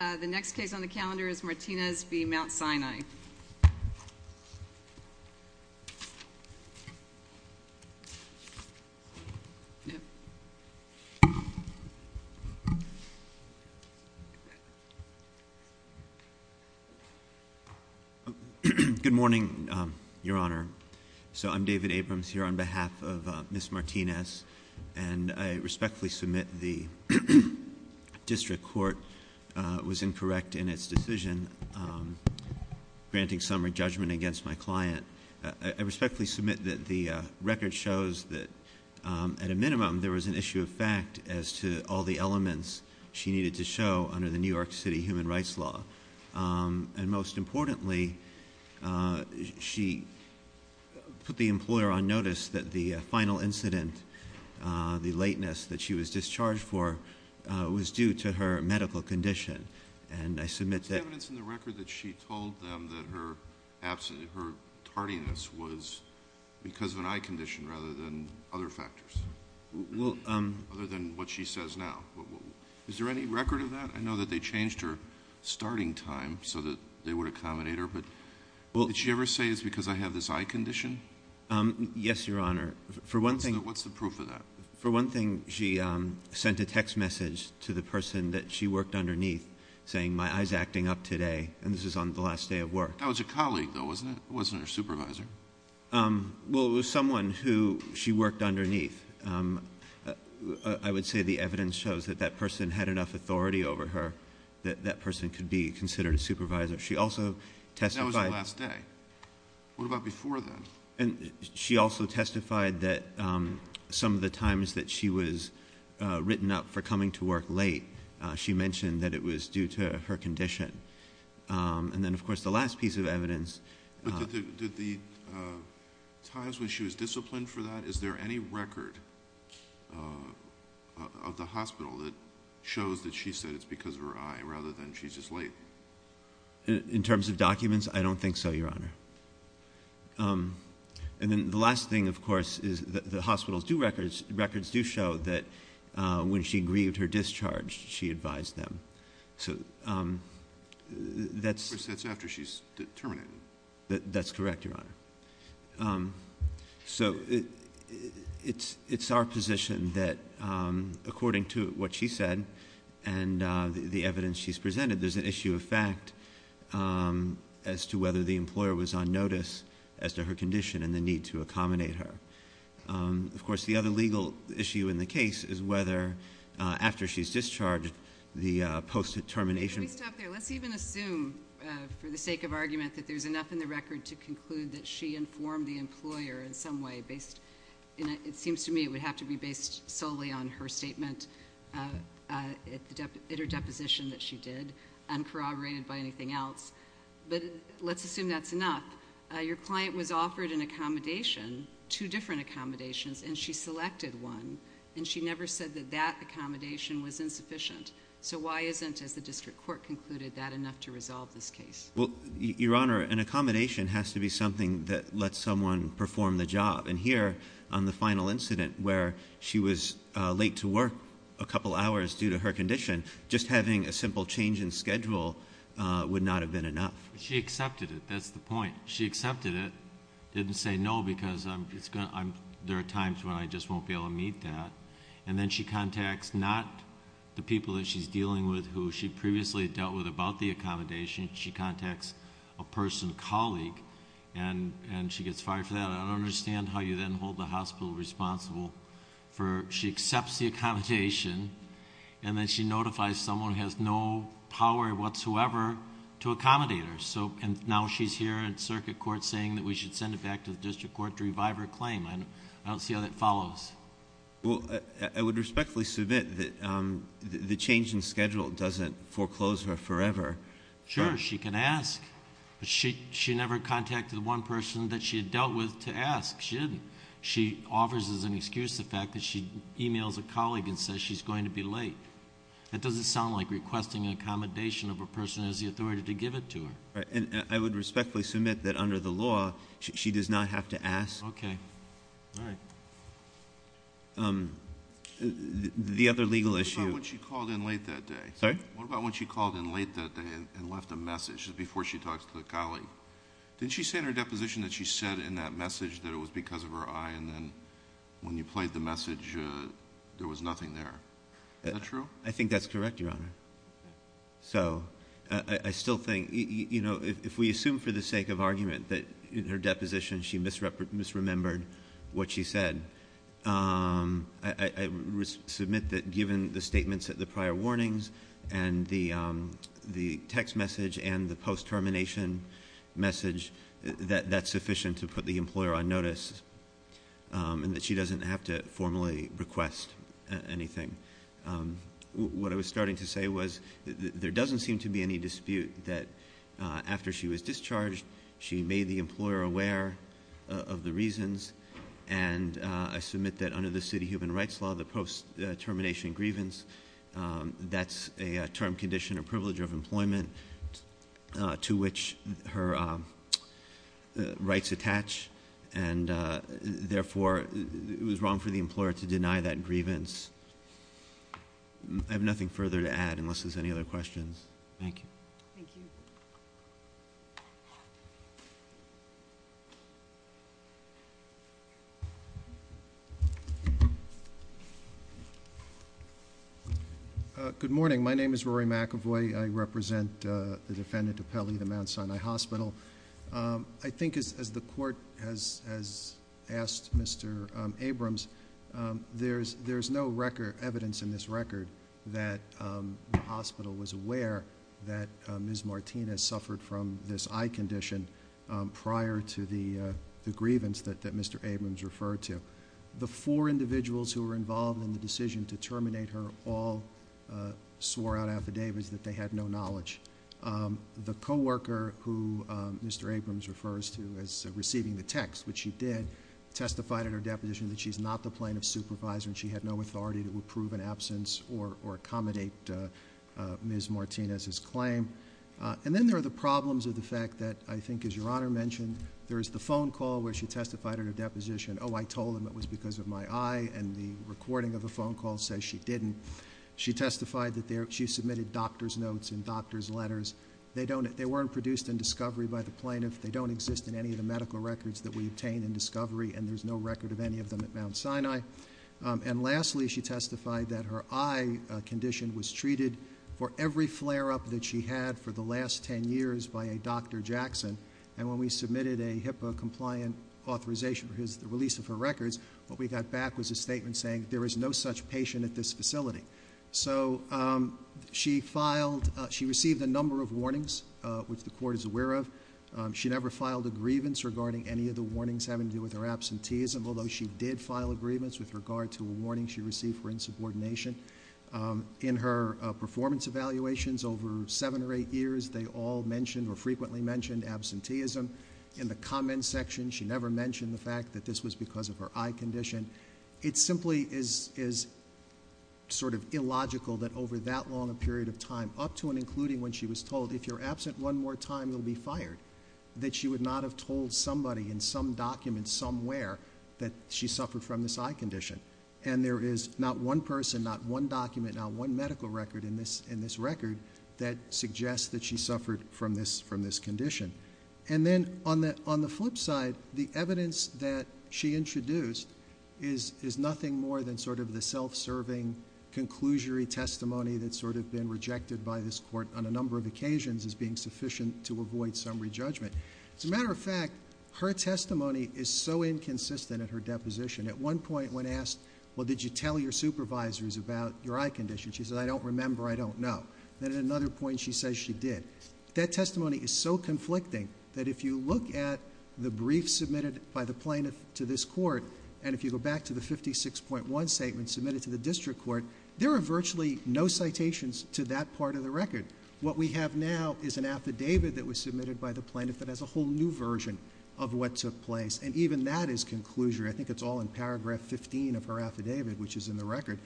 The next case on the calendar is Martinez v. Mount Sinai. Good morning, Your Honor. So I'm David Abrams here on behalf of Ms. Martinez, and I respectfully submit the district court was incorrect in its decision, granting summary judgment against my client. I respectfully submit that the record shows that at a minimum, there was an issue of fact as to all the elements she needed to show under the New York City Human Rights Law. And most importantly, she put the employer on notice that the final incident, the lateness that she was discharged for, was due to her medical condition. And I submit that- There's evidence in the record that she told them that her tardiness was because of an eye condition rather than other factors. Well- Other than what she says now. Is there any record of that? I know that they changed her starting time so that they would accommodate her, but- Well- Did she ever say it's because I have this eye condition? Yes, Your Honor. For one thing- What's the proof of that? For one thing, she sent a text message to the person that she worked underneath saying, my eye's acting up today, and this is on the last day of work. That was a colleague, though, wasn't it? It wasn't her supervisor. Well, it was someone who she worked underneath. I would say the evidence shows that that person had enough authority over her that that person could be considered a supervisor. She also testified- That was the last day. What about before then? She also testified that some of the times that she was written up for coming to work late, she mentioned that it was due to her condition. And then, of course, the last piece of evidence- Did the times when she was disciplined for that, is there any record of the hospital that shows that she said it's because of her eye rather than she's just late? In terms of documents, I don't think so, Your Honor. And then the last thing, of course, is the hospitals' records do show that when she grieved her discharge, she advised them. Of course, that's after she's terminated. That's correct, Your Honor. So it's our position that according to what she said and the evidence she's presented, there's an issue of fact as to whether the employer was on notice as to her condition and the need to accommodate her. Of course, the other legal issue in the case is whether after she's discharged, the post-termination- Let me stop there. Let's even assume, for the sake of argument, that there's enough in the record to conclude that she informed the employer in some way. It seems to me it would have to be based solely on her statement, at her deposition that she did, uncorroborated by anything else. But let's assume that's enough. Your client was offered an accommodation, two different accommodations, and she selected one. And she never said that that accommodation was insufficient. So why isn't, as the district court concluded, that enough to resolve this case? Well, Your Honor, an accommodation has to be something that lets someone perform the job. And here, on the final incident where she was late to work a couple hours due to her condition, just having a simple change in schedule would not have been enough. She accepted it. That's the point. She accepted it. Didn't say no because there are times when I just won't be able to meet that. And then she contacts not the people that she's dealing with who she previously dealt with about the accommodation. She contacts a person, a colleague, and she gets fired for that. I don't understand how you then hold the hospital responsible for- And then she notifies someone who has no power whatsoever to accommodate her. And now she's here in circuit court saying that we should send it back to the district court to revive her claim. I don't see how that follows. Well, I would respectfully submit that the change in schedule doesn't foreclose her forever. Sure, she can ask. But she never contacted the one person that she had dealt with to ask. She didn't. She offers as an excuse the fact that she emails a colleague and says she's going to be late. That doesn't sound like requesting an accommodation of a person who has the authority to give it to her. And I would respectfully submit that under the law, she does not have to ask. Okay. All right. The other legal issue- What about when she called in late that day? Sorry? What about when she called in late that day and left a message before she talks to the colleague? Didn't she say in her deposition that she said in that message that it was because of her eye and then when you played the message there was nothing there? Is that true? I think that's correct, Your Honor. So I still think, you know, if we assume for the sake of argument that in her deposition she misremembered what she said, I submit that given the statements at the prior warnings and the text message and the post-termination message that that's sufficient to put the employer on notice and that she doesn't have to formally request anything. What I was starting to say was there doesn't seem to be any dispute that after she was discharged, she made the employer aware of the reasons. And I submit that under the city human rights law, the post-termination grievance, that's a term, condition, or privilege of employment to which her rights attach. And therefore, it was wrong for the employer to deny that grievance. I have nothing further to add unless there's any other questions. Thank you. Thank you. Good morning. My name is Rory McEvoy. I represent the defendant of Pelley at the Mount Sinai Hospital. I think as the court has asked Mr. Abrams, there's no evidence in this record that the hospital was aware that Ms. Martinez suffered from this eye condition prior to the grievance that Mr. Abrams referred to. The four individuals who were involved in the decision to terminate her all swore out affidavits that they had no knowledge. The co-worker who Mr. Abrams refers to as receiving the text, which she did, testified at her deposition that she's not the plaintiff's supervisor, and she had no authority to approve an absence or accommodate Ms. Martinez's claim. And then there are the problems of the fact that I think, as Your Honor mentioned, there is the phone call where she testified at her deposition, oh, I told them it was because of my eye, and the recording of the phone call says she didn't. She testified that she submitted doctor's notes and doctor's letters. They weren't produced in discovery by the plaintiff. They don't exist in any of the medical records that we obtain in discovery, and there's no record of any of them at Mount Sinai. And lastly, she testified that her eye condition was treated for every flare-up that she had for the last ten years by a Dr. Jackson. And when we submitted a HIPAA-compliant authorization for the release of her records, what we got back was a statement saying there is no such patient at this facility. So she received a number of warnings, which the court is aware of. She never filed a grievance regarding any of the warnings having to do with her absenteeism, although she did file a grievance with regard to a warning she received for insubordination. In her performance evaluations over seven or eight years, they all mentioned or frequently mentioned absenteeism. In the comments section, she never mentioned the fact that this was because of her eye condition. It simply is sort of illogical that over that long a period of time, up to and including when she was told, if you're absent one more time, you'll be fired, that she would not have told somebody in some document somewhere that she suffered from this eye condition. And there is not one person, not one document, not one medical record in this record that suggests that she suffered from this condition. And then on the flip side, the evidence that she introduced is nothing more than sort of the self-serving, conclusionary testimony that's sort of been rejected by this court on a number of occasions as being sufficient to avoid some re-judgment. As a matter of fact, her testimony is so inconsistent at her deposition. At one point, when asked, well, did you tell your supervisors about your eye condition? She said, I don't remember, I don't know. Then at another point, she says she did. That testimony is so conflicting that if you look at the brief submitted by the plaintiff to this court, and if you go back to the 56.1 statement submitted to the district court, there are virtually no citations to that part of the record. What we have now is an affidavit that was submitted by the plaintiff that has a whole new version of what took place. And even that is conclusionary. I think it's all in paragraph 15 of her affidavit, which is in the record.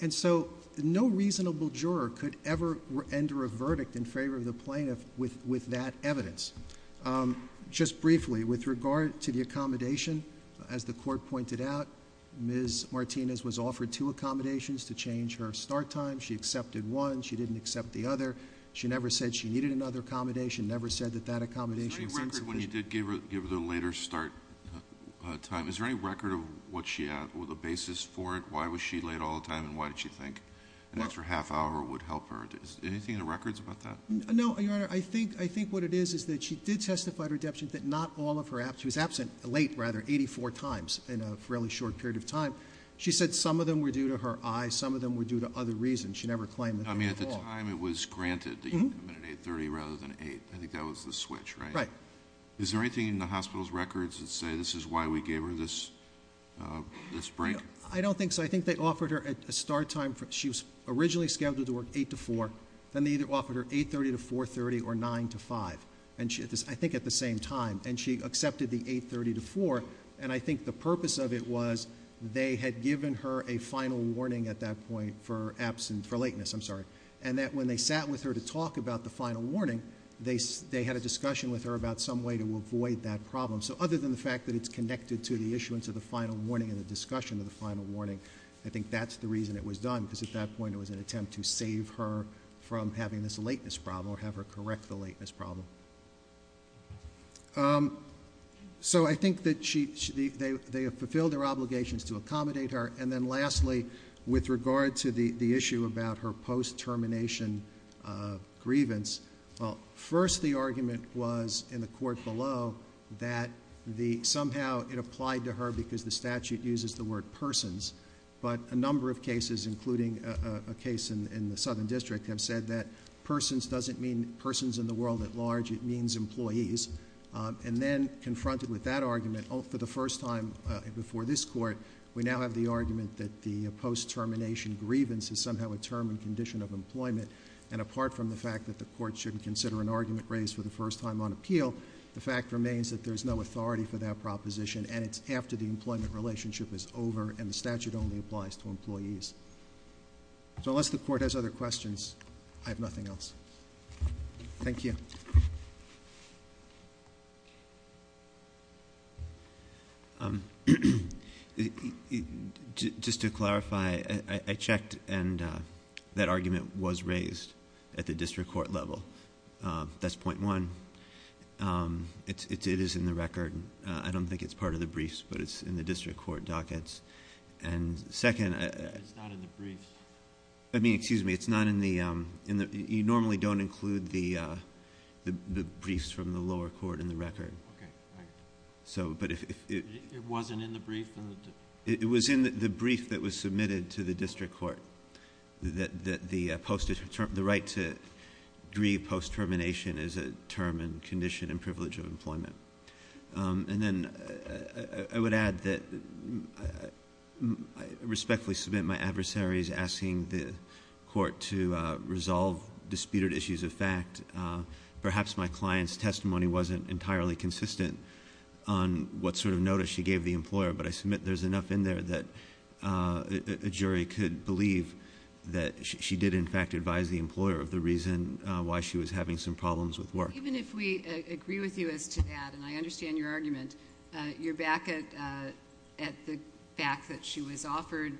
And so no reasonable juror could ever enter a verdict in favor of the plaintiff with that evidence. Just briefly, with regard to the accommodation, as the court pointed out, Ms. Martinez was offered two accommodations to change her start time. She accepted one. She didn't accept the other. She never said she needed another accommodation, never said that that accommodation seems sufficient. Is there any record when you did give her the later start time, is there any record of what she had, or the basis for it, why was she late all the time, and why did she think an extra half hour would help her? Is there anything in the records about that? No, Your Honor. I think what it is is that she did testify to her deputant that not all of her absence, she was absent late, rather, 84 times in a fairly short period of time. She said some of them were due to her eyes, some of them were due to other reasons. She never claimed them at all. I mean, at the time it was granted that you'd come in at 8.30 rather than 8.00. I think that was the switch, right? Right. Is there anything in the hospital's records that say this is why we gave her this break? I don't think so. I think they offered her a start time, she was originally scheduled to work 8 to 4. Then they offered her 8.30 to 4.30 or 9 to 5, I think at the same time. And she accepted the 8.30 to 4. And I think the purpose of it was they had given her a final warning at that point for lateness. And that when they sat with her to talk about the final warning, they had a discussion with her about some way to avoid that problem. So other than the fact that it's connected to the issuance of the final warning and the discussion of the final warning, I think that's the reason it was done, because at that point it was an attempt to save her from having this lateness problem or have her correct the lateness problem. So I think that they have fulfilled their obligations to accommodate her. And then lastly, with regard to the issue about her post-termination grievance, first the argument was in the court below that somehow it applied to her because the statute uses the word persons. But a number of cases, including a case in the Southern District, have said that persons doesn't mean persons in the world at large. It means employees. And then confronted with that argument for the first time before this court, we now have the argument that the post-termination grievance is somehow a term and condition of employment. And apart from the fact that the court shouldn't consider an argument raised for the first time on appeal, the fact remains that there's no authority for that proposition, and it's after the employment relationship is over and the statute only applies to employees. So unless the court has other questions, I have nothing else. Thank you. Just to clarify, I checked, and that argument was raised at the district court level. That's point one. It is in the record. I don't think it's part of the briefs, but it's in the district court dockets. And second. It's not in the briefs. I mean, excuse me. It's not in the ñ you normally don't include the briefs from the lower court in the record. Okay. All right. It wasn't in the brief? It was in the brief that was submitted to the district court, that the right to grieve post-termination is a term and condition and privilege of employment. And then I would add that I respectfully submit my adversary's asking the court to resolve disputed issues of fact. Perhaps my client's testimony wasn't entirely consistent on what sort of notice she gave the employer, but I submit there's enough in there that a jury could believe that she did, in fact, advise the employer of the reason why she was having some problems with work. Even if we agree with you as to that, and I understand your argument, you're back at the fact that she was offered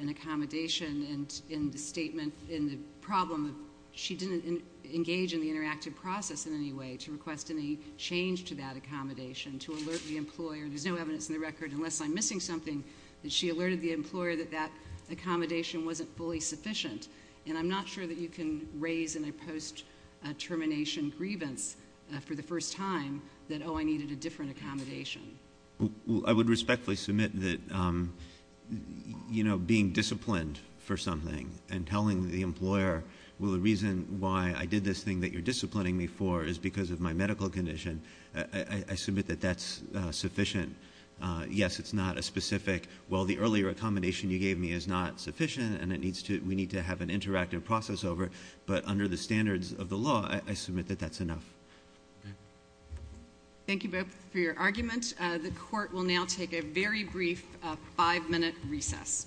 an accommodation in the statement in the problem. She didn't engage in the interactive process in any way to request any change to that accommodation, to alert the employer. There's no evidence in the record, unless I'm missing something, that she alerted the employer that that accommodation wasn't fully sufficient. And I'm not sure that you can raise in a post-termination grievance for the first time that, oh, I needed a different accommodation. I would respectfully submit that being disciplined for something and telling the employer, well, the reason why I did this thing that you're disciplining me for is because of my medical condition. I submit that that's sufficient. Yes, it's not a specific, well, the earlier accommodation you gave me is not sufficient, and we need to have an interactive process over it, but under the standards of the law, I submit that that's enough. Okay. Thank you both for your argument. The court will now take a very brief five-minute recess. Five minutes. Court is taking a recess.